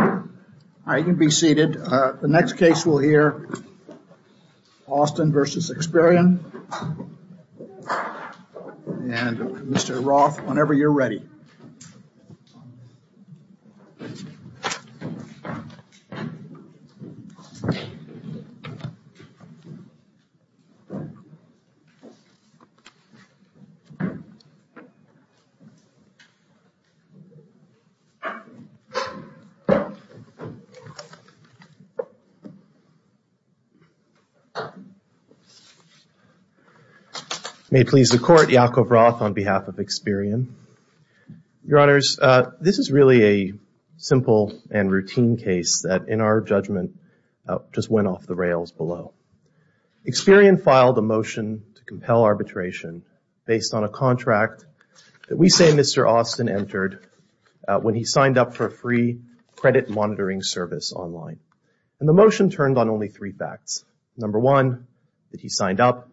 All right, you can be seated. The next case we'll hear, Austin v. Experian and Mr. Roth, whenever you're ready. May it please the Court, Yakov Roth on behalf of Experian. Your Honors, this is really a simple and routine case that, in our judgment, just went off the rails below. Experian filed a motion to compel arbitration based on a contract that we say Mr. Austin entered when he signed up for a free credit monitoring service online. And the motion turned on only three facts. Number one, that he signed up.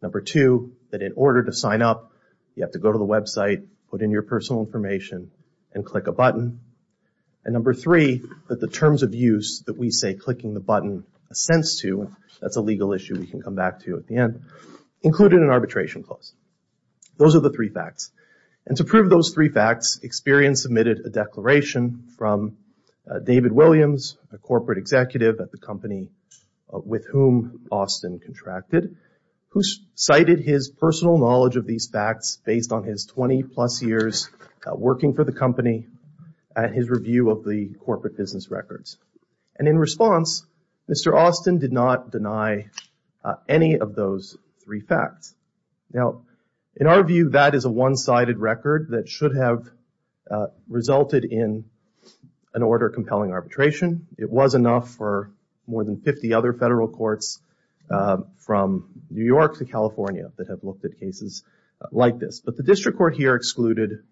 Number two, that in order to sign up, you have to go to the website, put in your personal information, and click a button. And number three, that the terms of use that we say clicking the button assents to, that's a legal issue we can come back to at the end, included an arbitration clause. Those are the three facts. And to prove those three facts, Experian submitted a declaration from David Williams, a corporate executive at the company with whom Austin contracted, who cited his personal knowledge of these facts based on his 20 plus years working for the company and his review of the corporate business records. And in response, Mr. Austin did not deny any of those three facts. Now, in our view, that is a one-sided record that should have resulted in an order of compelling arbitration. It was enough for more than 50 other federal courts from New York to California that have looked at cases like this. But the district court here excluded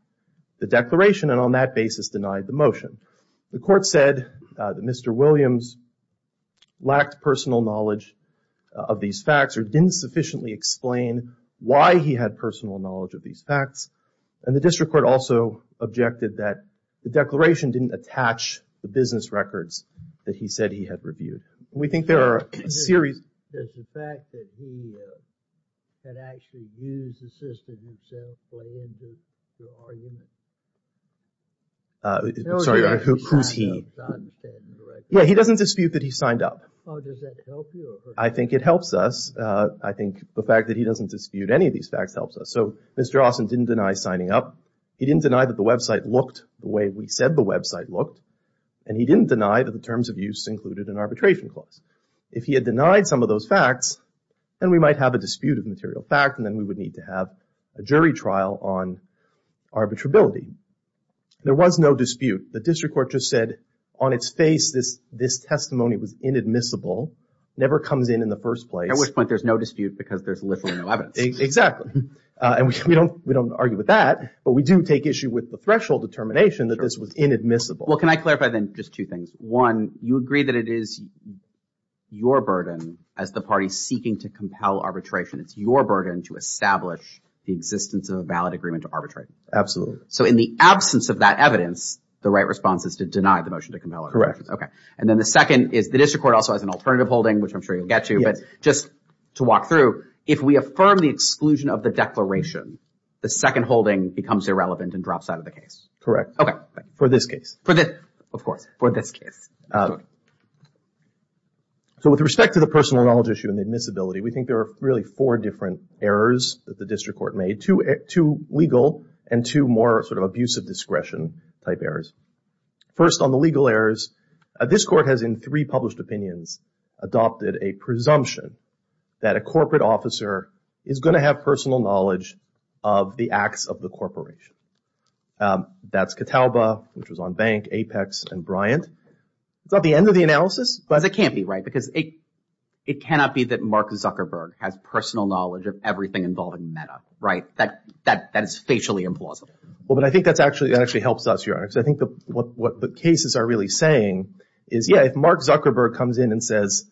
the declaration and on that basis denied the motion. The court said that Mr. Williams lacked personal knowledge of these facts or didn't sufficiently explain why he had personal knowledge of these facts. And the district court also objected that the declaration didn't attach the business records that he said he had reviewed. And we think there are a series. I'm sorry, Your Honor. Who's he? Yeah, he doesn't dispute that he signed up. I think it helps us. I think the fact that he doesn't dispute any of these facts helps us. So Mr. Austin didn't deny signing up. He didn't deny that the website looked the way we said the website looked. And he didn't deny that the terms of use included an arbitration clause. If he had denied some of those facts, then we might have a dispute of material fact and then we would need to have a jury trial on arbitrability. There was no dispute. The district court just said on its face this testimony was inadmissible, never comes in in the first place. At which point there's no dispute because there's literally no evidence. Exactly. And we don't argue with that, but we do take issue with the threshold determination that this was inadmissible. Well, can I clarify then just two things? One, you agree that it is your burden as the party seeking to compel arbitration. It's your burden to establish the existence of a valid agreement to arbitrate. Absolutely. So in the absence of that evidence, the right response is to deny the motion to compel. Correct. OK. And then the second is the district court also has an alternative holding, which I'm sure you'll get to. But just to walk through, if we affirm the exclusion of the declaration, the second holding becomes irrelevant and drops out of the case. Correct. OK. For this case. Of course. For this case. So with respect to the personal knowledge issue and the admissibility, we think there are really four different errors that the district court made. Two legal and two more sort of abusive discretion type errors. First on the legal errors, this court has in three published opinions adopted a presumption that a corporate officer is going to have personal knowledge of the acts of the corporation. That's Catalba, which was on Bank, Apex, and Bryant. Is that the end of the analysis? Because it can't be, right? Because it cannot be that Mark Zuckerberg has personal knowledge of everything involving MEDA, right? That is facially implausible. Well, but I think that actually helps us, Your Honor, because I think what the cases are really saying is, yeah, if Mark Zuckerberg comes in and says,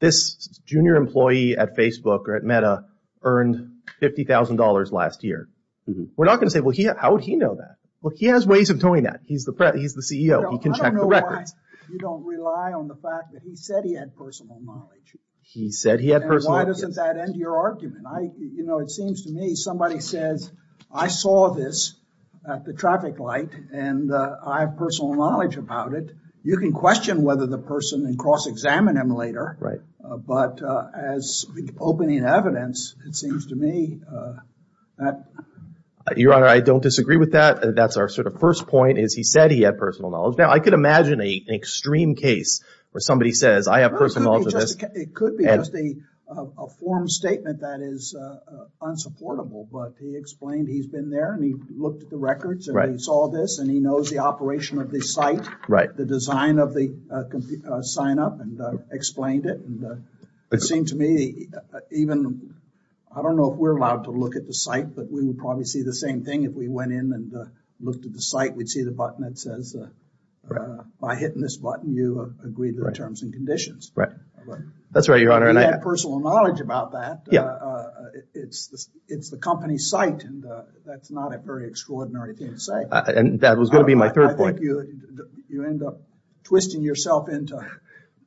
this junior employee at Facebook or at MEDA earned $50,000 last year, we're not going to say, well, how would he know that? Well, he has ways of doing that. He's the CEO. He can check the records. I don't know why you don't rely on the fact that he said he had personal knowledge. He said he had personal knowledge. And why doesn't that end your argument? You know, it seems to me somebody says, I saw this at the traffic light, and I have personal knowledge about it. You can question whether the person and cross-examine him later. But as opening evidence, it seems to me that— Your Honor, I don't disagree with that. That's our sort of first point is he said he had personal knowledge. Now, I could imagine an extreme case where somebody says, I have personal knowledge of this. It could be just a form statement that is unsupportable. But he explained he's been there, and he looked at the records, and he saw this, and he knows the operation of this site, the design of the sign-up, and explained it. It seemed to me even—I don't know if we're allowed to look at the site, but we would probably see the same thing if we went in and looked at the site. We'd see the button that says, by hitting this button, you agree to the terms and conditions. That's right, Your Honor. He had personal knowledge about that. It's the company's site, and that's not a very extraordinary thing to say. That was going to be my third point. I think you end up twisting yourself into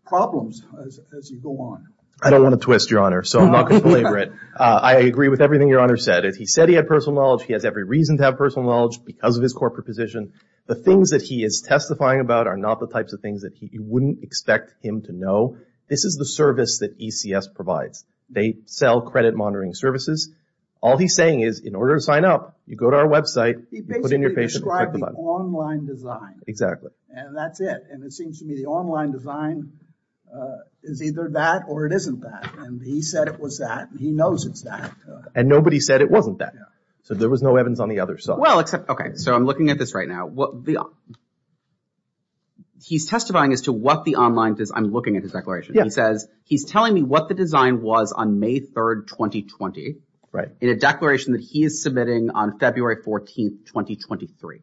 problems as you go on. I don't want to twist, Your Honor, so I'm not going to belabor it. I agree with everything Your Honor said. He said he had personal knowledge. He has every reason to have personal knowledge because of his corporate position. The things that he is testifying about are not the types of things that you wouldn't expect him to know. This is the service that ECS provides. They sell credit monitoring services. All he's saying is, in order to sign up, you go to our website, you put in your patient, and click the button. He basically described the online design, and that's it. It seems to me the online design is either that or it isn't that. He said it was that, and he knows it's that. Nobody said it wasn't that, so there was no evidence on the other side. I'm looking at this right now. He's testifying as to what the online design is. I'm looking at his declaration. He says, he's telling me what the design was on May 3, 2020, in a declaration that he is submitting on February 14, 2023.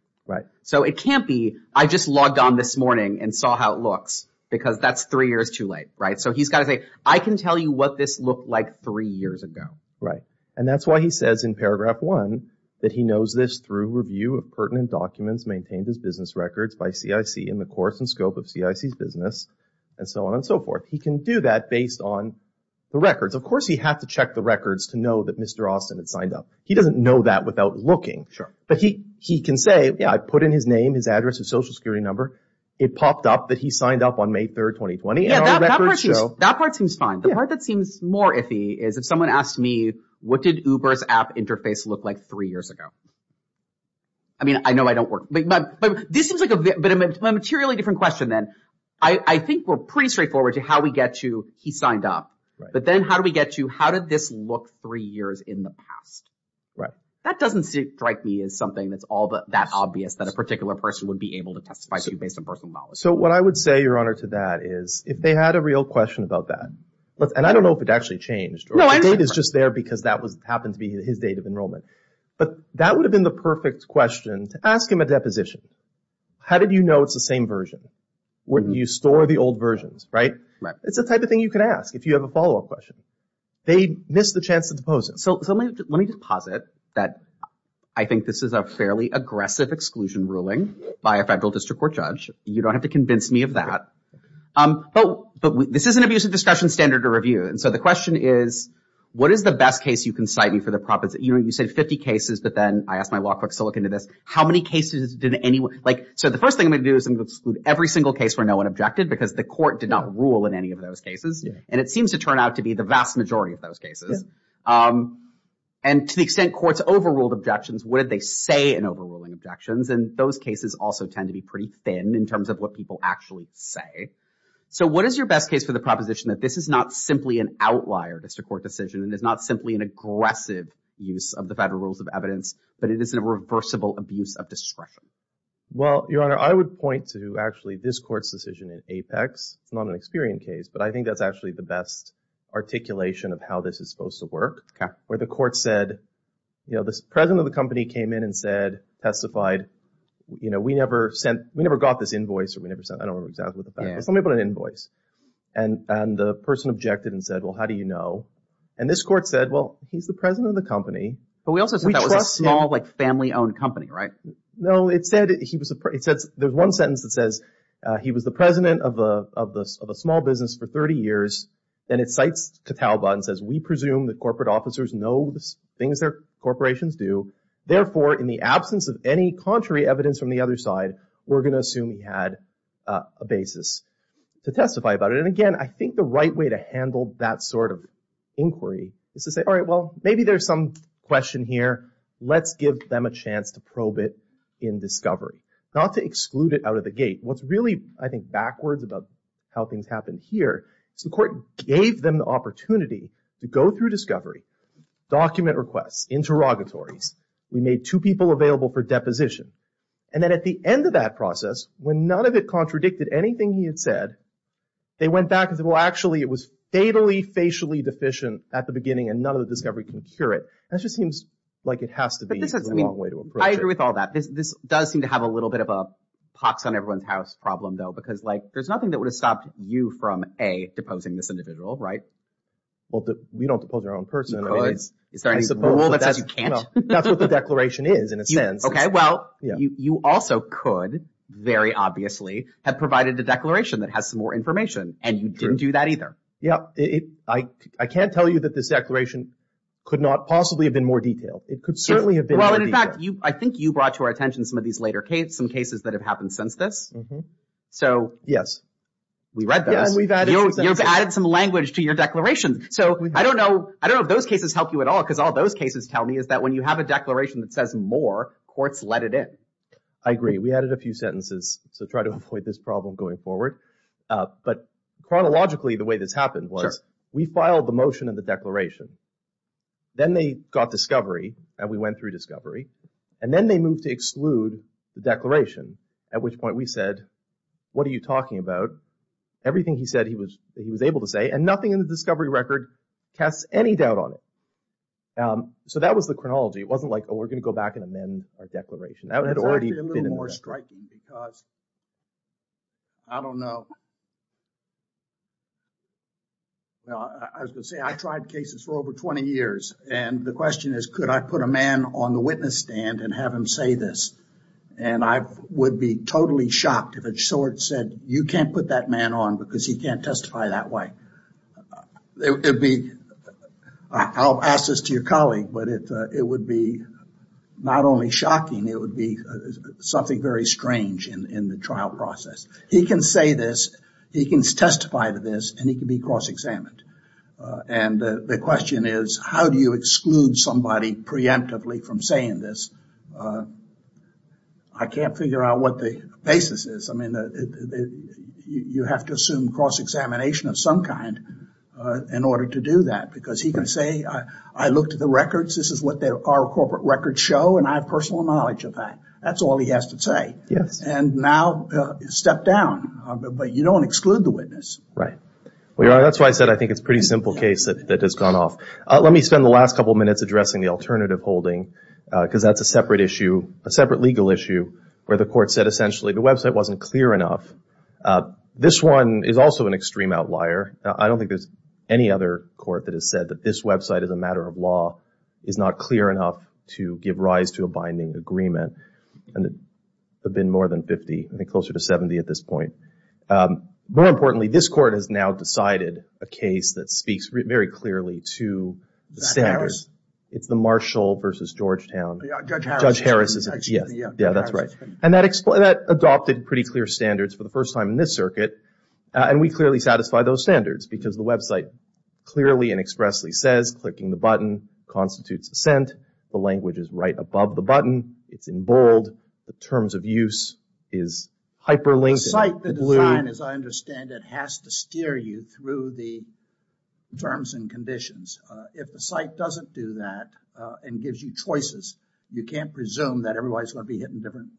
It can't be, I just logged on this morning and saw how it looks because that's three years too late. He's got to say, I can tell you what this looked like three years ago. That's why he says in paragraph one that he knows this through review of pertinent documents maintained as business records by CIC in the course and scope of CIC's business, and so on and so forth. He can do that based on the records. Of course, he had to check the records to know that Mr. Austin had signed up. He doesn't know that without looking. He can say, I put in his name, his address, his social security number. It popped up that he signed up on May 3, 2020. That part seems fine. The part that seems more iffy is if someone asked me, what did Uber's app interface look like three years ago? I mean, I know I don't work, but this seems like a bit of a materially different question then. I think we're pretty straightforward to how we get to he signed up, but then how do we get to how did this look three years in the past? That doesn't strike me as something that's all that obvious that a particular person would be able to testify to based on personal knowledge. So what I would say, Your Honor, to that is if they had a real question about that, and I don't know if it actually changed. The date is just there because that happened to be his date of enrollment. But that would have been the perfect question to ask him at deposition. How did you know it's the same version? You store the old versions, right? It's the type of thing you can ask if you have a follow-up question. They missed the chance to depose it. So let me just posit that I think this is a fairly aggressive exclusion ruling by a judge. He convinced me of that. But this is an abuse of discretion standard to review. And so the question is, what is the best case you can cite me for the profits? You know, you said 50 cases, but then I asked my law clerk to look into this. How many cases did anyone like? So the first thing I'm going to do is I'm going to exclude every single case where no one objected because the court did not rule in any of those cases. And it seems to turn out to be the vast majority of those cases. And to the extent courts overruled objections, what did they say in overruling objections? And those cases also tend to be pretty thin in terms of what people actually say. So what is your best case for the proposition that this is not simply an outlier to court decision and is not simply an aggressive use of the Federal Rules of Evidence, but it is a reversible abuse of discretion? Well, Your Honor, I would point to actually this court's decision in Apex. It's not an experienced case, but I think that's actually the best articulation of how this is supposed to work. Where the court said, you know, the president of the company came in and said, testified, you know, we never sent, we never got this invoice, or we never sent, I don't remember exactly what the fact was. Yeah. Something about an invoice. And the person objected and said, well, how do you know? And this court said, well, he's the president of the company. But we also said that was a small, like, family-owned company, right? No, it said he was, it says, there's one sentence that says he was the president of a small business for 30 years, and it cites Catalba and says, we presume that corporate officers know the things their corporations do, therefore, in the absence of any contrary evidence from the other side, we're going to assume he had a basis to testify about it. And again, I think the right way to handle that sort of inquiry is to say, all right, well, maybe there's some question here. Let's give them a chance to probe it in discovery. Not to exclude it out of the gate. What's really, I think, backwards about how things happened here is the court gave them the opportunity to go through discovery, document requests, interrogatories. We made two people available for deposition. And then at the end of that process, when none of it contradicted anything he had said, they went back and said, well, actually, it was fatally, facially deficient at the beginning, and none of the discovery can cure it. That just seems like it has to be the wrong way to approach it. I agree with all that. This does seem to have a little bit of a pox on everyone's house problem, though, because, like, there's nothing that would have stopped you from, A, deposing this individual, right? Well, we don't depose our own person. You could. Is there any rule that says you can't? That's what the declaration is, in a sense. Okay. Well, you also could, very obviously, have provided a declaration that has some more information, and you didn't do that either. Yeah. I can't tell you that this declaration could not possibly have been more detailed. It could certainly have been more detailed. Well, and in fact, I think you brought to our attention some of these later cases, some cases that have happened since this. Mm-hmm. So. Yes. We read those. We read those. Yeah, and we've added some sentences. You've added some language to your declaration. So, I don't know. I don't know if those cases help you at all, because all those cases tell me is that when you have a declaration that says more, courts let it in. I agree. We added a few sentences to try to avoid this problem going forward. But chronologically, the way this happened was we filed the motion of the declaration. Then they got discovery, and we went through discovery. And then they moved to exclude the declaration, at which point we said, what are you talking about? Everything he said he was able to say, and nothing in the discovery record casts any doubt on it. So, that was the chronology. It wasn't like, oh, we're going to go back and amend our declaration. That had already That's actually a little more striking, because, I don't know. I was going to say, I've tried cases for over 20 years, and the question is, could I put a man on the witness stand and have him say this? And I would be totally shocked if it said, you can't put that man on because he can't testify that way. I'll ask this to your colleague, but it would be not only shocking, it would be something very strange in the trial process. He can say this, he can testify to this, and he can be cross-examined. And the question is, how do you exclude somebody preemptively from saying this? I can't figure out what the basis is. I mean, you have to assume cross-examination of some kind in order to do that, because he can say, I looked at the records, this is what our corporate records show, and I have personal knowledge of that. That's all he has to say. And now, step down. But you don't exclude the witness. Right. Well, that's why I said I think it's a pretty simple case that has gone off. Let me spend the last couple of minutes addressing the alternative holding, because that's a separate issue, a separate legal issue, where the court said essentially the website wasn't clear enough. This one is also an extreme outlier. I don't think there's any other court that has said that this website is a matter of law, is not clear enough to give rise to a binding agreement. And there have been more than 50, I think closer to 70 at this point. More importantly, this court has now decided a case that speaks very clearly to the standards. It's the Marshall v. Georgetown. Judge Harris is it. Yeah, that's right. And that adopted pretty clear standards for the first time in this circuit. And we clearly satisfy those standards, because the website clearly and expressly says, clicking the button constitutes assent. The language is right above the button. It's in bold. The terms of use is hyperlinked. The site, the design, as I understand it, has to steer you through the terms and conditions. If the site doesn't do that and gives you choices, you can't presume that everybody's going to be hitting different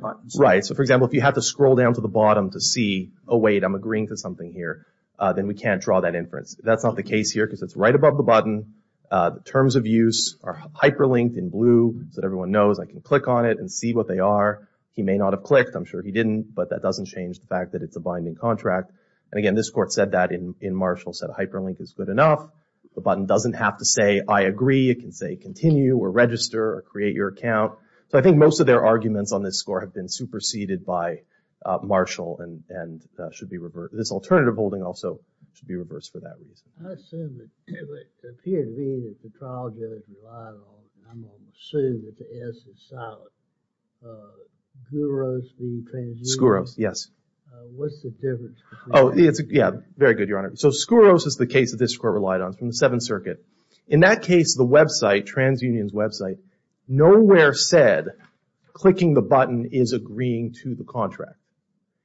buttons. Right. So for example, if you have to scroll down to the bottom to see, oh wait, I'm agreeing to something here, then we can't draw that inference. That's not the case here, because it's right above the button. The terms of use are hyperlinked in blue so that everyone knows I can click on it and see what they are. He may not have clicked. I'm sure he didn't. But that doesn't change the fact that it's a binding contract. And again, this court said that in Marshall, said hyperlink is good enough. The button doesn't have to say, I agree. It can say continue or register or create your account. So I think most of their arguments on this score have been superseded by Marshall and should be reversed. This alternative holding also should be reversed for that reason. I assume that the P&V that the trial judge relied on, and I'm going to assume that the S is solid, Scuros v. TransUnion. Scuros, yes. What's the difference between them? Oh, yeah. Very good, Your Honor. So Scuros is the case that this court relied on from the Seventh Circuit. In that case, the website, TransUnion's website, nowhere said clicking the button is agreeing to the contract.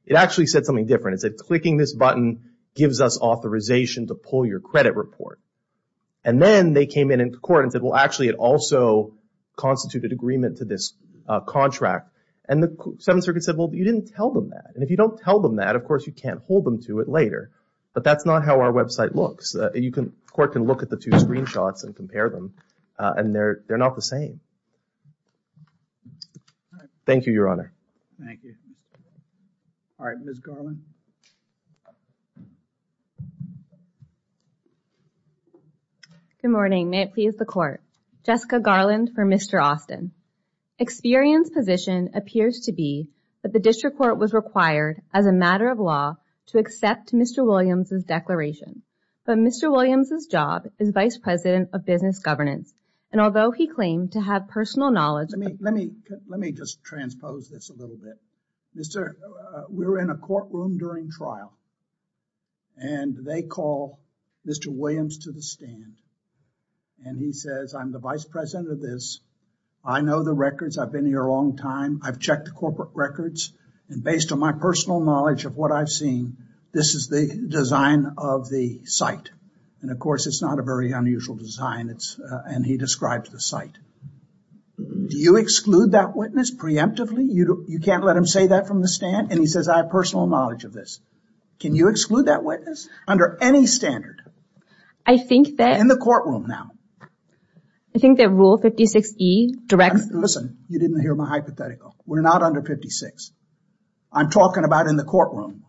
It actually said something different. It said clicking this button gives us authorization to pull your credit report. And then they came in in court and said, well, actually, it also constituted agreement to this contract. And the Seventh Circuit said, well, you didn't tell them that. And if you don't tell them that, of course, you can't hold them to it later. But that's not how our website looks. You can, the court can look at the two screenshots and compare them. And they're not the same. Thank you, Your Honor. Thank you. All right, Ms. Garland. Good morning. May it please the Court. Jessica Garland for Mr. Austin. Experience position appears to be that the district court was required as a matter of law to accept Mr. Williams' declaration. But Mr. Williams' job is Vice President of Business Governance. And although he claimed to have personal knowledge... Let me just transpose this a little bit. We were in a courtroom during trial. And they call Mr. Williams to the stand. And he says, I'm the Vice President of this. I know the records. I've been here a long time. I've checked the corporate records. And based on my personal knowledge of what I've seen, this is the design of the site. And of course, it's not a very unusual design. And he describes the site. Do you exclude that witness preemptively? You can't let him say that from the stand. And he says, I have personal knowledge of this. Can you exclude that witness under any standard? I think that... In the courtroom now. I think that Rule 56E directs... Listen, you didn't hear my hypothetical. We're not under 56. I'm talking about in the courtroom.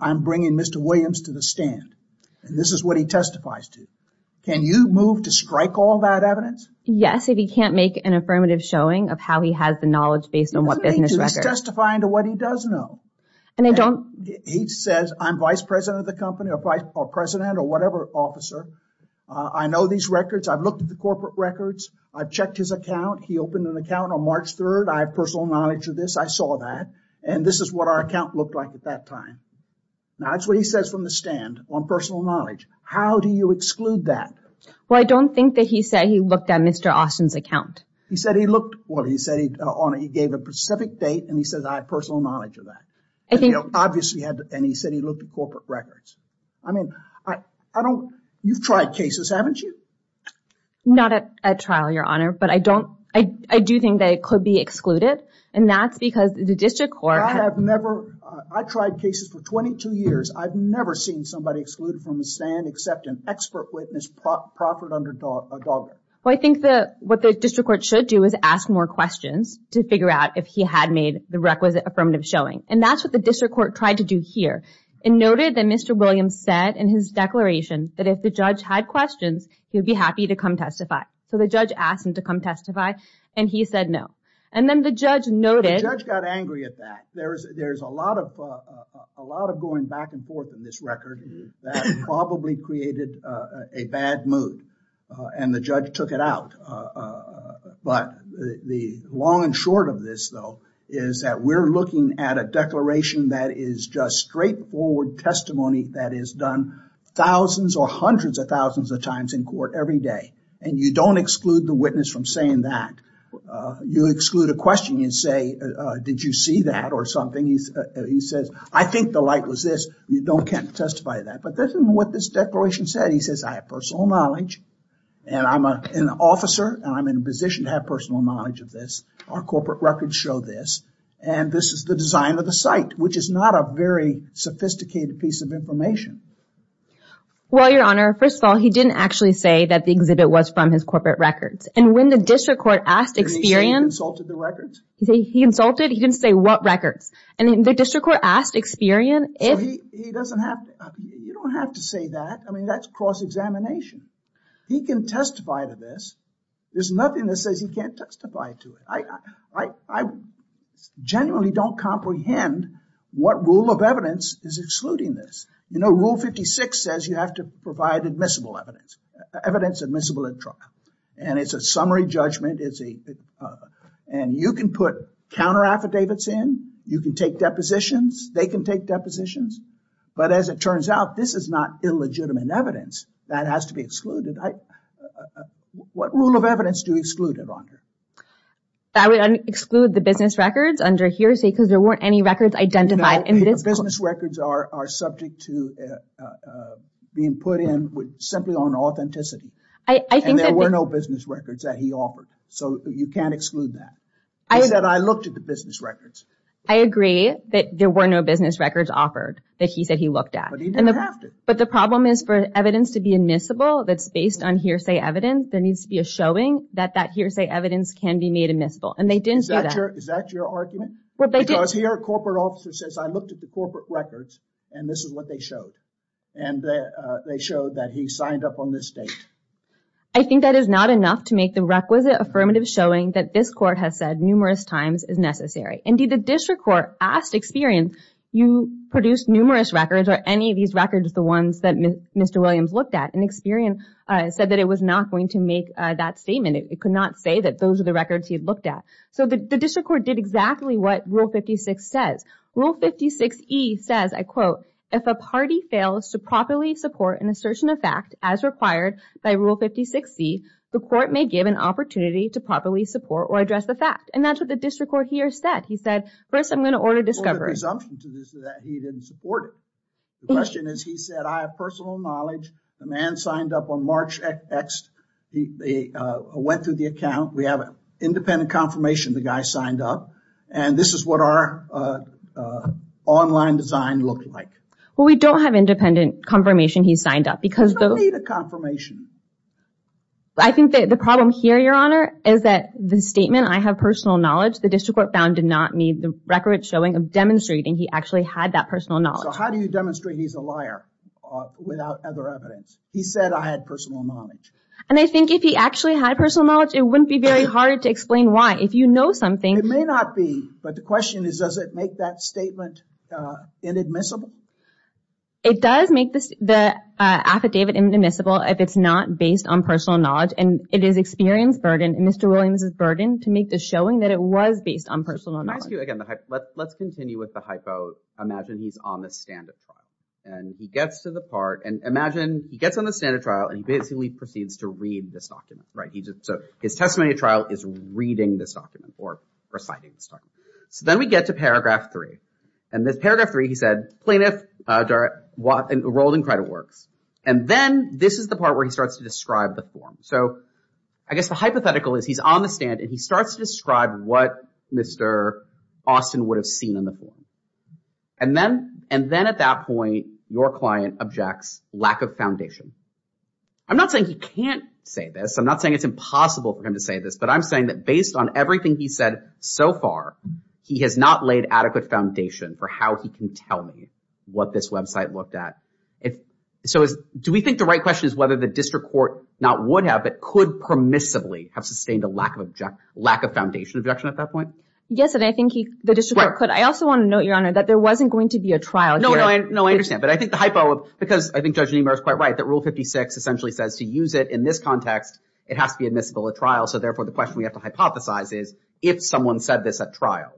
I'm bringing Mr. Williams to the stand. And this is what he testifies to. Can you move to strike all that evidence? Yes, if he can't make an affirmative showing of how he has the knowledge based on what business records... He's testifying to what he does know. And I don't... He says, I'm Vice President of the company or vice president or whatever officer. I know these records. I've looked at the corporate records. I've checked his account. He opened an account on March 3rd. I have personal knowledge of this. I saw that. And this is what our account looked like at that time. Now, that's what he says from the stand on personal knowledge. How do you exclude that? Well, I don't think that he said he looked at Mr. Austin's account. He said he looked... Well, he said he gave a specific date and he says, I have personal knowledge of that. And he obviously had... And he said he looked at corporate records. I mean, I don't... You've tried cases, haven't you? Not at trial, Your Honor. But I don't... I do think that it could be excluded. And that's because the district court... I have never... I tried cases for 22 years. I've never seen somebody excluded from the stand except an expert witness proffered under DOGRA. Well, I think what the district court should do is ask more questions to figure out if he had made the requisite affirmative showing. And that's what the district court tried to do here. It noted that Mr. Williams said in his declaration that if the judge had questions, he'd be happy to come testify. So the judge asked him to come testify and he said no. And then the judge noted... The judge got angry at that. There's a lot of going back and forth in this record that probably created a bad mood and the judge took it out. But the long and short of this though is that we're looking at a declaration that is just straightforward testimony that is done thousands or hundreds of thousands of times in court every day. And you don't exclude the witness from saying that. You exclude a question and say, did you see that or something? He says, I think the light was this. You don't get to testify to that. But that's what this declaration said. He says, I have personal knowledge and I'm an officer and I'm in a position to have personal knowledge of this. Our corporate records show this. And this is the design of the site, which is not a very sophisticated piece of information. Well, Your Honor, first of all, he didn't actually say that the exhibit was from his corporate records. And when the district court asked Experian... Did he say he consulted the records? He consulted. He didn't say what records. And the district court asked Experian if... So he doesn't have... You don't have to say that. I mean, that's cross-examination. He can testify to this. There's nothing that says he can't testify to it. I genuinely don't comprehend what rule of evidence is excluding this. You know, Rule 56 says you have to provide admissible evidence. Evidence admissible at trial. And it's a summary judgment. And you can put counter-affidavits in. You can take depositions. They can take depositions. But as it turns out, this is not illegitimate evidence. That has to be excluded. What rule of evidence do you exclude it under? I would exclude the business records under here, say, because there weren't any records identified. Business records are subject to being put in simply on authenticity. I think that... And there were no business records that he offered. So you can't exclude that. I said I looked at the business records. I agree that there were no business records offered that he said he looked at. But he didn't have to. But the problem is for evidence to be admissible that's based on hearsay evidence, there needs to be a showing that that hearsay evidence can be made admissible. And they didn't Is that your argument? Because here a corporate officer says I looked at the corporate records and this is what they showed. And they showed that he signed up on this date. I think that is not enough to make the requisite affirmative showing that this court has said numerous times is necessary. Indeed, the district court asked Experian, you produced numerous records. Are any of these records the ones that Mr. Williams looked at? And Experian said that it was not going to make that statement. It could not say that those are records he had looked at. So the district court did exactly what Rule 56 says. Rule 56E says, I quote, if a party fails to properly support an assertion of fact as required by Rule 56C, the court may give an opportunity to properly support or address the fact. And that's what the district court here said. He said, first, I'm going to order discovery. Presumption to this that he didn't support it. The question is, he said, I have personal knowledge. The man signed up on March X. He went through the account. We have an independent confirmation the guy signed up. And this is what our online design looked like. Well, we don't have independent confirmation he signed up because... We don't need a confirmation. I think that the problem here, Your Honor, is that the statement, I have personal knowledge, the district court found did not need the requisite showing of demonstrating he actually had that personal knowledge. So how do you demonstrate he's a liar without other evidence? He said, I had personal knowledge. And I think if he actually had personal knowledge, it wouldn't be very hard to explain why. If you know something... It may not be, but the question is, does it make that statement inadmissible? It does make the affidavit inadmissible if it's not based on personal knowledge. And it is experience burden and Mr. Williams' burden to make the showing that it was based on personal knowledge. Let's continue with the hypo. Imagine he's on the stand at trial. And he gets to the part... And imagine he gets on the stand at trial and he basically proceeds to read this document. Right. So his testimony at trial is reading this document or reciting this document. So then we get to paragraph three. And this paragraph three, he said, plaintiff enrolled in credit works. And then this is the part where he starts to describe the form. So I guess the hypothetical is he's on the stand and he starts to describe what Mr. Austin would have seen in the form. And then at that point, your client objects, lack of foundation. I'm not saying he can't say this. I'm not saying it's impossible for him to say this, but I'm saying that based on everything he said so far, he has not laid adequate foundation for how he can tell me what this website looked at. So do we think the right question is whether the district court not would have, but could permissively have sustained a lack of foundation at that point? Yes. And I think the district court could. I also want to note, Your Honor, that there wasn't going to be a trial here. No, I understand. But I think the hypo, because I think Judge Niemeyer is quite right, that rule 56 essentially says to use it in this context, it has to be admissible at trial. So therefore the question we have to hypothesize is if someone said this at trial,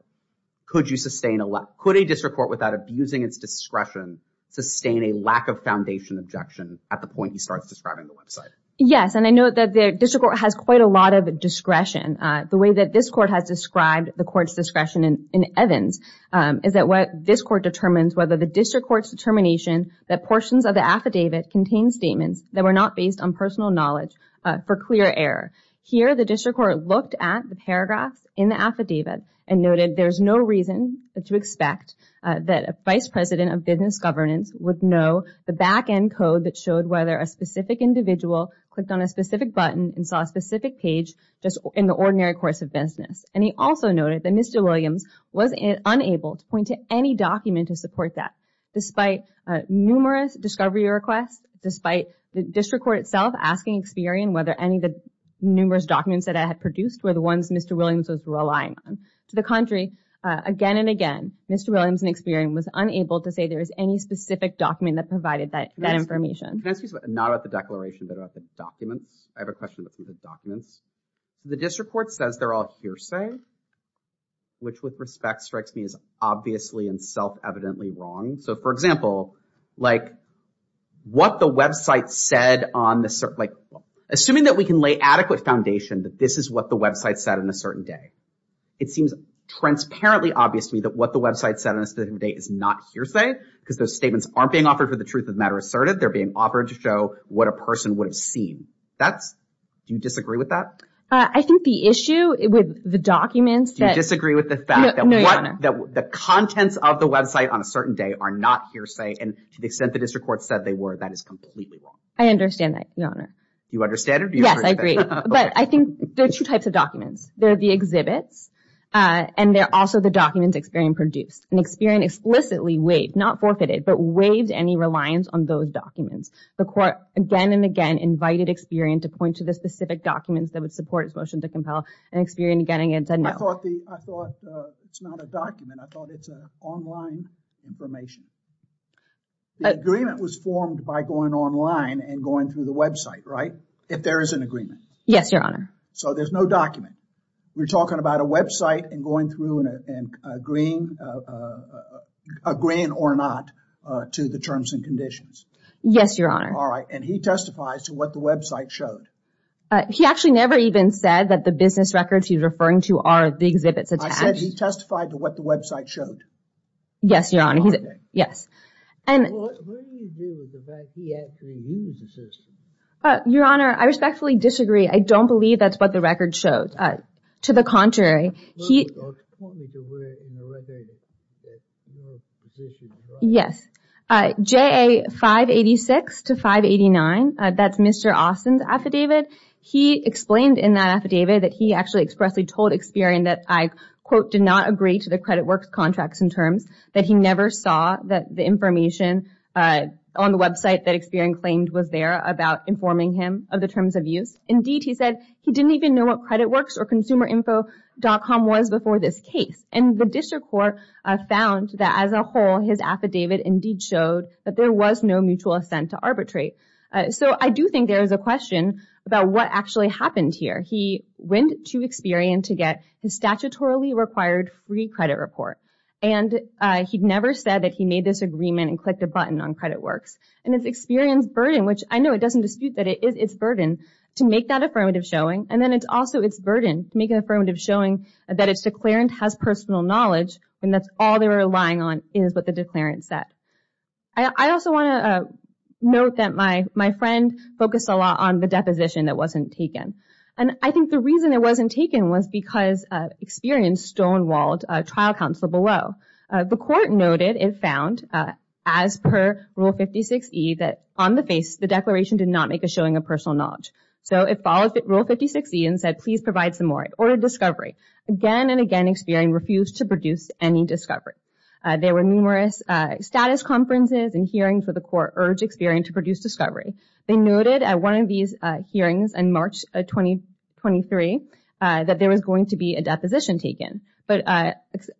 could a district court without abusing its discretion, sustain a lack of foundation objection at the point he starts describing the website? Yes. And I know that the district court has quite a lot of discretion. The way that this court has described the court's discretion in Evans is that what this court determines whether the district court's determination that portions of the affidavit contain statements that were not based on personal knowledge for clear error. Here, the district court looked at the paragraphs in the affidavit and noted there's no reason to expect that a vice president of business governance would know the back end code that showed whether a specific individual clicked on a specific button and saw a specific page in the ordinary course of business. And he also noted that Mr. Williams was unable to point to any document to support that, despite numerous discovery requests, despite the district court itself asking Experian whether any of the numerous documents that I had produced were the ones Mr. Williams was relying on. To the contrary, again and again, Mr. Williams and Experian was unable to say there was any specific document that provided that information. Can I ask you something not about the declaration, but about the documents? I have a question about some of the documents. The district court says they're all hearsay, which, with respect, strikes me as obviously and self-evidently wrong. So, for example, like, what the website said on the, like, assuming that we can lay adequate foundation that this is what the website said on a certain day, it seems transparently obvious to me that what the website said on a certain day is not hearsay because those statements aren't being offered for the truth of matter asserted. They're being offered to show what a person would have seen. That's, do you disagree with that? I think the issue with the documents that... Do you disagree with the fact that the contents of the website on a certain day are not hearsay, and to the extent the district court said they were, that is completely wrong? I understand that, Your Honor. You understand it? Yes, I agree. But I think there are two types of documents. There are the exhibits, and there are also the documents Experian produced. And Experian explicitly waived, not forfeited, but waived any reliance on those documents. The court again and again invited Experian to point to the specific documents that would support his motion to compel, and Experian again and again said no. I thought it's not a document. I thought it's online information. The agreement was formed by going online and going through the website, right? If there is an agreement. Yes, Your Honor. So there's no document. We're talking about a website and going through and agreeing, agreeing or not to the terms and conditions. Yes, Your Honor. All right. And he testifies to what the website showed. He actually never even said that the business records he's referring to are the exhibits attached. I said he testified to what the website showed. Yes, Your Honor. Yes. Well, what do you do with the fact that he actually used the system? Your Honor, I respectfully disagree. I don't believe that's what the record showed. To the contrary, he... Or point me to where in the record that your position is. Yes, JA 586 to 589. That's Mr. Austin's affidavit. He explained in that affidavit that he actually expressly told Experian that I, quote, did not agree to the CreditWorks contracts and terms, that he never saw that the information on the website that Experian claimed was there about informing him of the terms of use. Indeed, he said he didn't even know what CreditWorks or consumerinfo.com was before this case. And the district court found that as a whole, his affidavit indeed showed that there was no mutual assent to arbitrate. So I do think there is a question about what actually happened here. He went to Experian to get his statutorily required free credit report. And he'd never said that he made this agreement and clicked a button on CreditWorks. And it's Experian's burden, which I know it doesn't dispute that it is its burden to make that affirmative showing. And then it's also its burden to make an affirmative showing that its declarant has personal knowledge and that's all they were relying on is what the declarant said. I also want to note that my friend focused a lot on the deposition that wasn't taken. And I think the reason it wasn't taken was because Experian stonewalled a trial counsel below. The court noted, it found, as per Rule 56E, that on the face, the declaration did not make a showing of personal knowledge. So it followed Rule 56E and said, please provide some more. It ordered discovery. Again and again, Experian refused to produce any discovery. There were numerous status conferences and hearings where the court urged Experian to produce discovery. They noted at one of these hearings in March of 2023 that there was going to be a deposition taken. But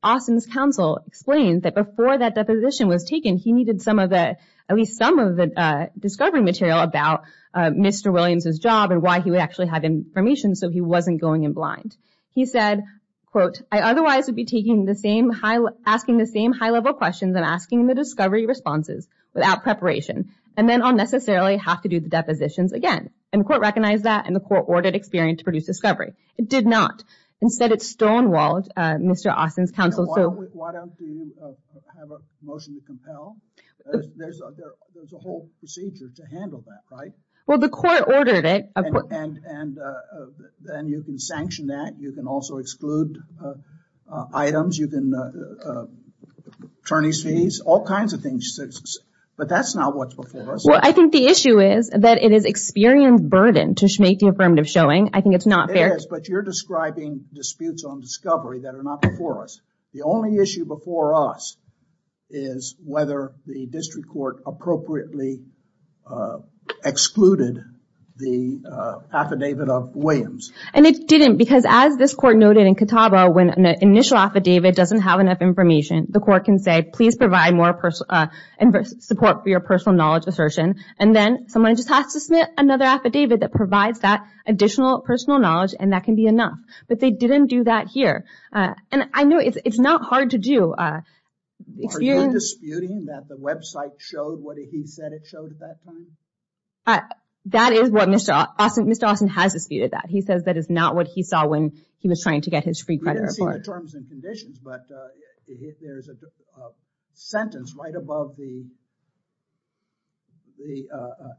Austin's counsel explained that before that deposition was taken, he needed at least some of the discovery material about Mr. Williams's job and why he would actually have information so he wasn't going in blind. He said, quote, I otherwise would be asking the same high-level questions and asking the discovery responses without preparation. And then I'll necessarily have to do the depositions again. And the court recognized that and the court ordered Experian to produce discovery. It did not. Instead, it stonewalled Mr. Austin's counsel. Why don't you have a motion to compel? There's a whole procedure to handle that, right? Well, the court ordered it. And then you can sanction that. You can also exclude items. You can attorneys fees, all kinds of things. But that's not what's before us. Well, I think the issue is that it is Experian's burden to make the affirmative showing. I think it's not fair. But you're describing disputes on discovery that are not before us. The only issue before us is whether the district court appropriately excluded the affidavit of Williams. And it didn't because as this court noted in Catawba, when an initial affidavit doesn't have enough information, the court can say, please provide more support for your personal knowledge assertion. And then someone just has to submit another affidavit that provides that additional personal knowledge and that can be enough. But they didn't do that here. And I know it's not hard to do. Are you disputing that the website showed what he said it showed at that time? That is what Mr. Austin has disputed that. He says that is not what he saw when he was trying to get his free credit report. We didn't see the terms and conditions. But there's a sentence right above the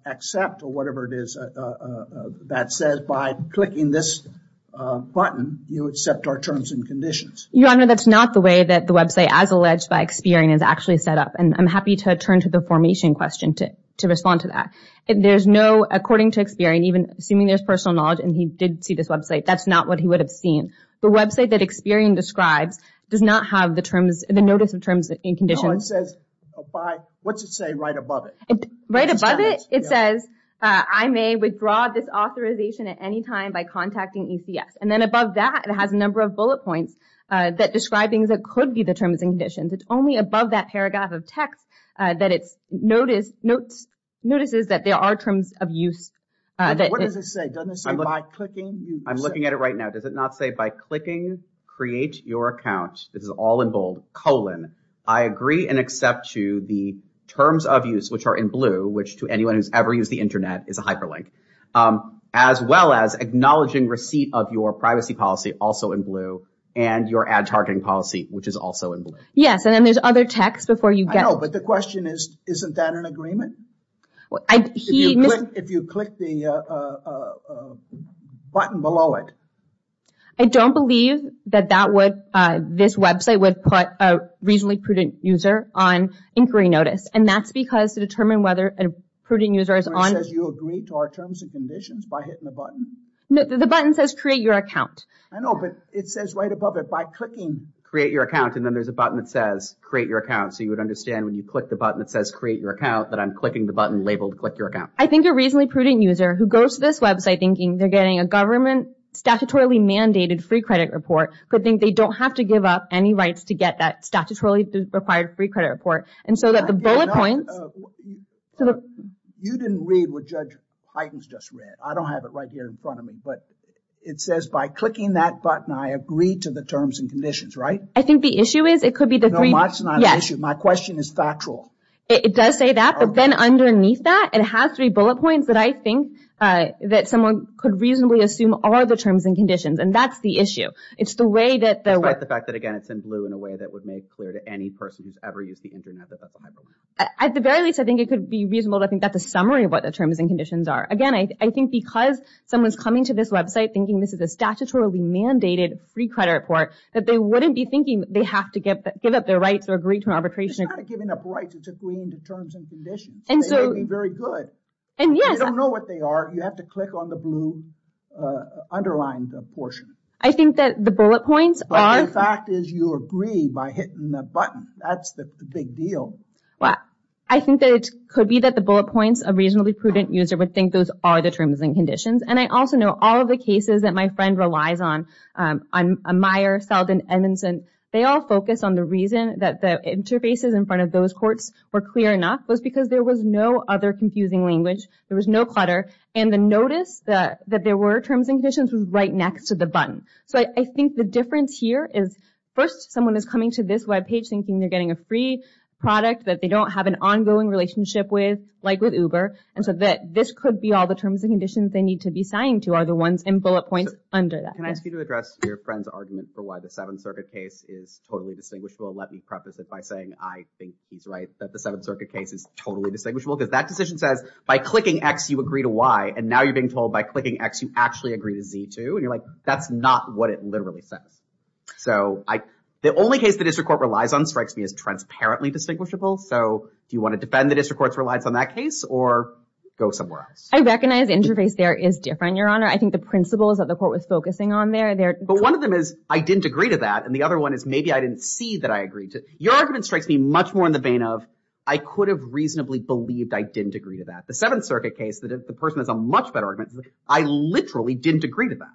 accept or whatever it is that says by clicking this button, you accept our terms and conditions. Your Honor, that's not the way that the website, as alleged by Experian, is actually set up. And I'm happy to turn to the formation question to respond to that. There's no, according to Experian, even assuming there's personal knowledge and he did see this website, that's not what he would have seen. The website that Experian describes does not have the terms, the notice of terms and conditions. It says, what's it say right above it? Right above it, it says I may withdraw this authorization at any time by contacting ECS. And then above that, it has a number of bullet points that describe things that could be the terms and conditions. It's only above that paragraph of text that it notices that there are terms of use. What does it say? Doesn't it say by clicking? I'm looking at it right now. Does it not say by clicking create your account? This is all in bold, colon. I agree and accept to the terms of use, which are in blue, which to anyone who's ever used the internet is a hyperlink, as well as acknowledging receipt of your privacy policy, also in blue, and your ad targeting policy, which is also in blue. Yes, and then there's other text before you get... I know, but the question is, isn't that an agreement? If you click the button below it... I don't believe that this website would put a reasonably prudent user on inquiry notice. And that's because to determine whether a prudent user is on... It says you agree to our terms and conditions by hitting the button? No, the button says create your account. I know, but it says right above it by clicking create your account. And then there's a button that says create your account. So you would understand when you click the button that says create your account that I'm clicking the button labeled click your account. I think a reasonably prudent user who goes to this website thinking they're getting a government statutorily mandated free credit report could think they don't have to give up any rights to get that statutorily required free credit report. And so that the bullet points... So you didn't read what Judge Huygens just read. I don't have it right here in front of me. But it says by clicking that button, I agree to the terms and conditions, right? I think the issue is it could be the three... No, that's not an issue. My question is factual. It does say that, but then underneath that, it has three bullet points that I think that someone could reasonably assume are the terms and conditions. And that's the issue. It's the way that the... Despite the fact that, again, it's in blue in a way that would make clear to any person who's ever used the internet that that's a hyperlink. At the very least, I think it could be reasonable to think that's a summary of what the terms and conditions are. Again, I think because someone's coming to this website thinking this is a statutorily mandated free credit report, that they wouldn't be thinking they have to give up their rights or agree to an arbitration... It's not giving up rights. It's agreeing to terms and conditions. And so... They may be very good. And yes... You don't know what they are. You have to click on the blue underlined portion. I think that the bullet points are... But the fact is you agree by hitting the button. That's the big deal. Well, I think that it could be that the bullet points of reasonably prudent user would think those are the terms and conditions. And I also know all of the cases that my friend relies on, on Meyer, Seldin, Edmondson, they all focus on the reason that the interfaces in front of those courts were clear enough was because there was no other confusing language. There was no clutter. And the notice that there were terms and conditions was right next to the button. So I think the difference here is, first, someone is coming to this webpage they're getting a free product that they don't have an ongoing relationship with, like with Uber. And so that this could be all the terms and conditions they need to be signed to are the ones in bullet points under that. Can I ask you to address your friend's argument for why the Seventh Circuit case is totally distinguishable? Let me preface it by saying, I think he's right that the Seventh Circuit case is totally distinguishable. Because that decision says, by clicking X, you agree to Y. And now you're being told by clicking X, you actually agree to Z too. And you're like, that's not what it literally says. So the only case the district court relies on, strikes me, is transparently distinguishable. So do you want to defend the district court's reliance on that case or go somewhere else? I recognize the interface there is different, Your Honor. I think the principles that the court was focusing on there. But one of them is, I didn't agree to that. And the other one is, maybe I didn't see that I agreed to. Your argument strikes me much more in the vein of, I could have reasonably believed I didn't agree to that. The Seventh Circuit case, that if the person has a much better argument, I literally didn't agree to that.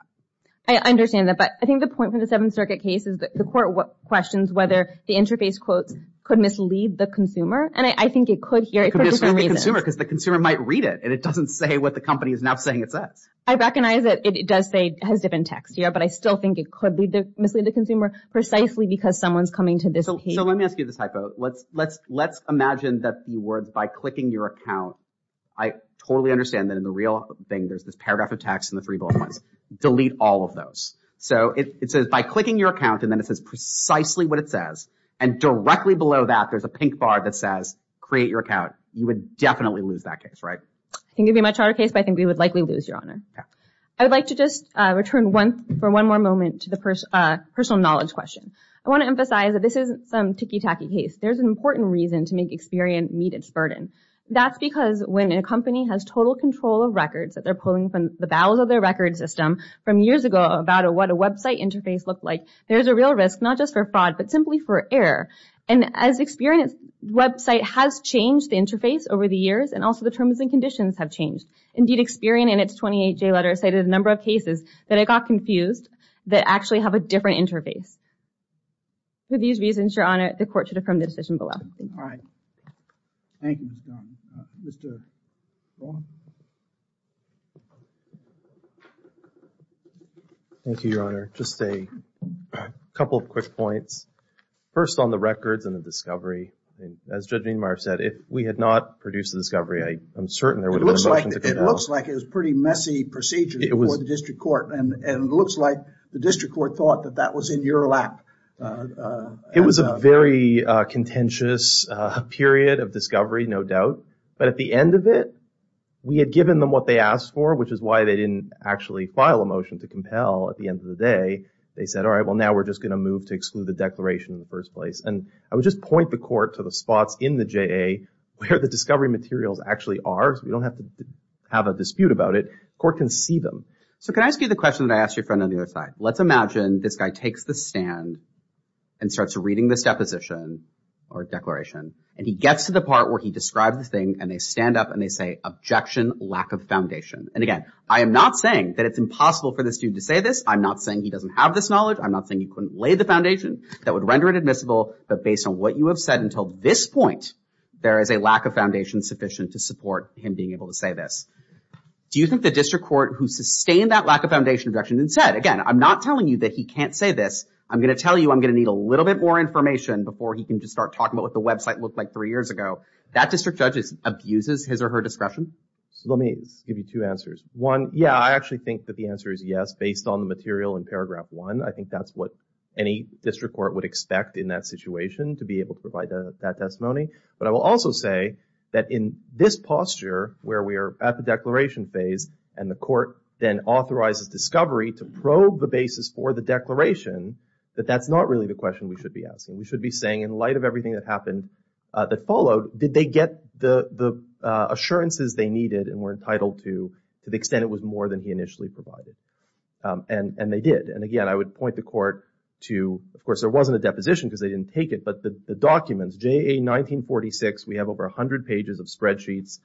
I understand that. But I think the point from the Seventh Circuit case is that the court questions whether the interface quotes could mislead the consumer. And I think it could here for different reasons. Because the consumer might read it and it doesn't say what the company is now saying it says. I recognize that it does say, has different text here. But I still think it could mislead the consumer precisely because someone's coming to this page. So let me ask you this typo. Let's imagine that the words, by clicking your account, I totally understand that in the real thing, there's this paragraph of text and the three bullet points. Delete all of those. So it says, by clicking your account, and then it says precisely what it says. And directly below that, there's a pink bar that says, create your account. You would definitely lose that case, right? I think it'd be a much harder case, but I think we would likely lose, Your Honor. I would like to just return for one more moment to the personal knowledge question. I want to emphasize that this isn't some ticky tacky case. There's an important reason to make experience meet its burden. That's because when a company has total control of records that they're pulling from the bowels of their record system from years ago about what a website interface looked like, there's a real risk, not just for fraud, but simply for error. And as experience, website has changed the interface over the years, and also the terms and conditions have changed. Indeed, Experian, in its 28-J letter, cited a number of cases that it got confused that actually have a different interface. For these reasons, Your Honor, the court should affirm the decision below. Thank you. All right. Thank you, Ms. Dunn. Mr. Vaughn? Thank you, Your Honor. Just a couple of quick points. First, on the records and the discovery, as Judge Meadmeyer said, if we had not produced the discovery, I am certain there would have been a motion to go down. It looks like it was a pretty messy procedure before the district court. And it looks like the district court thought that that was in your lap. It was a very contentious period of discovery, no doubt. But at the end of it, we had given them what they asked for, which is why they didn't actually file a motion to compel at the end of the day. They said, all right, well, now we're just going to move to exclude the declaration in the first place. And I would just point the court to the spots in the JA where the discovery materials actually are, so we don't have to have a dispute about it. Court can see them. So can I ask you the question that I asked your friend on the other side? Let's imagine this guy takes the stand and starts reading this deposition or declaration, and he gets to the part where he describes the thing, and they stand up and they say, objection, lack of foundation. And again, I am not saying that it's impossible for the student to say this. I'm not saying he doesn't have this knowledge. I'm not saying he couldn't lay the foundation that would render it admissible. But based on what you have said until this point, there is a lack of foundation sufficient to support him being able to say this. Do you think the district court who sustained that lack of foundation objection and said, again, I'm not telling you that he can't say this. I'm going to tell you I'm going to need a little bit more information before he can just start talking about what the website looked like three years ago. That district judge abuses his or her discretion? So let me give you two answers. One, yeah, I actually think that the answer is yes, based on the material in paragraph one. I think that's what any district court would expect in that situation to be able to provide that testimony. But I will also say that in this posture, where we are at the declaration phase, and the court then authorizes discovery to probe the basis for the declaration, that that's not really the question we should be asking. We should be saying, in light of everything that happened, that followed, did they get the assurances they needed and were entitled to, to the extent it was more than he initially provided? And they did. And again, I would point the court to, of course, there wasn't a deposition because they didn't take it, but the documents, JA1946, we have over 100 pages of spreadsheets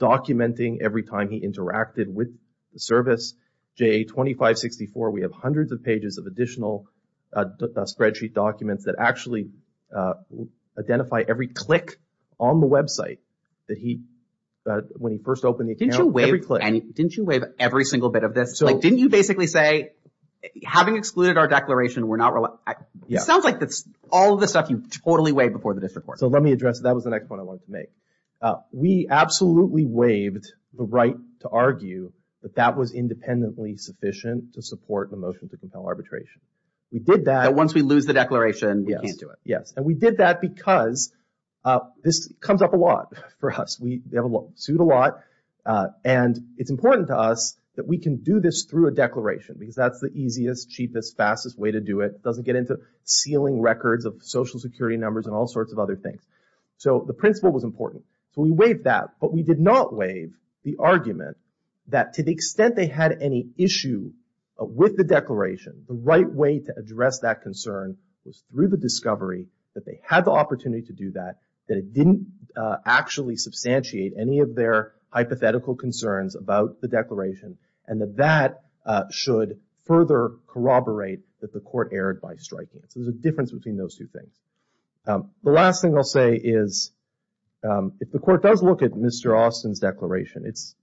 documenting every time he interacted with the service. JA2564, we have hundreds of pages of additional spreadsheet documents that actually identify every click on the website that he, when he first opened the account, every click. Didn't you waive every single bit of this? Like, didn't you basically say, having excluded our declaration, we're not, it sounds like that's all the stuff you totally waived before the district court. So let me address, that was the next point I wanted to make. We absolutely waived the right to argue that that was independently sufficient to support the motion to compel arbitration. We did that. But once we lose the declaration, we can't do it. Yes, and we did that because this comes up a lot for us. We have sued a lot, and it's important to us that we can do this through a declaration because that's the easiest, cheapest, fastest way to do it. It doesn't get into sealing records of social security numbers and all sorts of other things. So the principle was important. So we waived that, but we did not waive the argument that to the extent they had any issue with the declaration, the right way to address that concern was through the discovery that they had the opportunity to do that, that it didn't actually substantiate any of their hypothetical concerns about the declaration, and that that should further corroborate that the court erred by striking it. So there's a difference between those two things. The last thing I'll say is, if the court does look at Mr. Austin's declaration, it's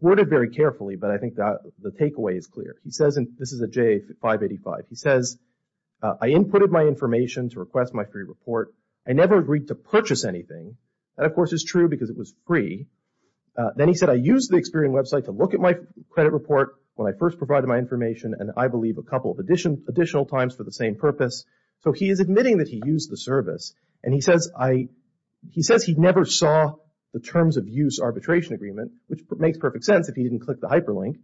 worded very carefully, but I think the takeaway is clear. He says, and this is a J585, he says, I inputted my information to request my free report. I never agreed to purchase anything. That, of course, is true because it was free. Then he said, I used the Experian website to look at my credit report when I first provided my information, and I believe a couple of additional times for the same purpose. So he is admitting that he used the service, and he says he never saw the terms of use arbitration agreement, which makes perfect sense if he didn't click the hyperlink.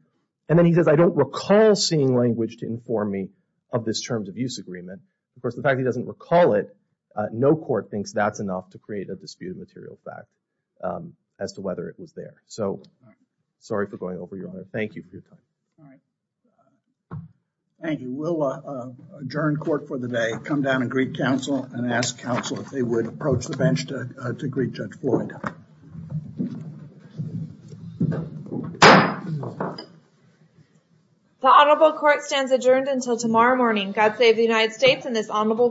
And then he says, I don't recall seeing language to inform me of this terms of use agreement. Of course, the fact that he doesn't recall it, no court thinks that's enough to create a disputed material fact as to whether it was there. So sorry for going over, Your Honor. Thank you for your time. All right. Thank you. We'll adjourn court for the day, come down and greet counsel, and ask counsel if they would approach the bench to greet Judge Floyd. The honorable court stands adjourned until tomorrow morning. God save the United States and this honorable court.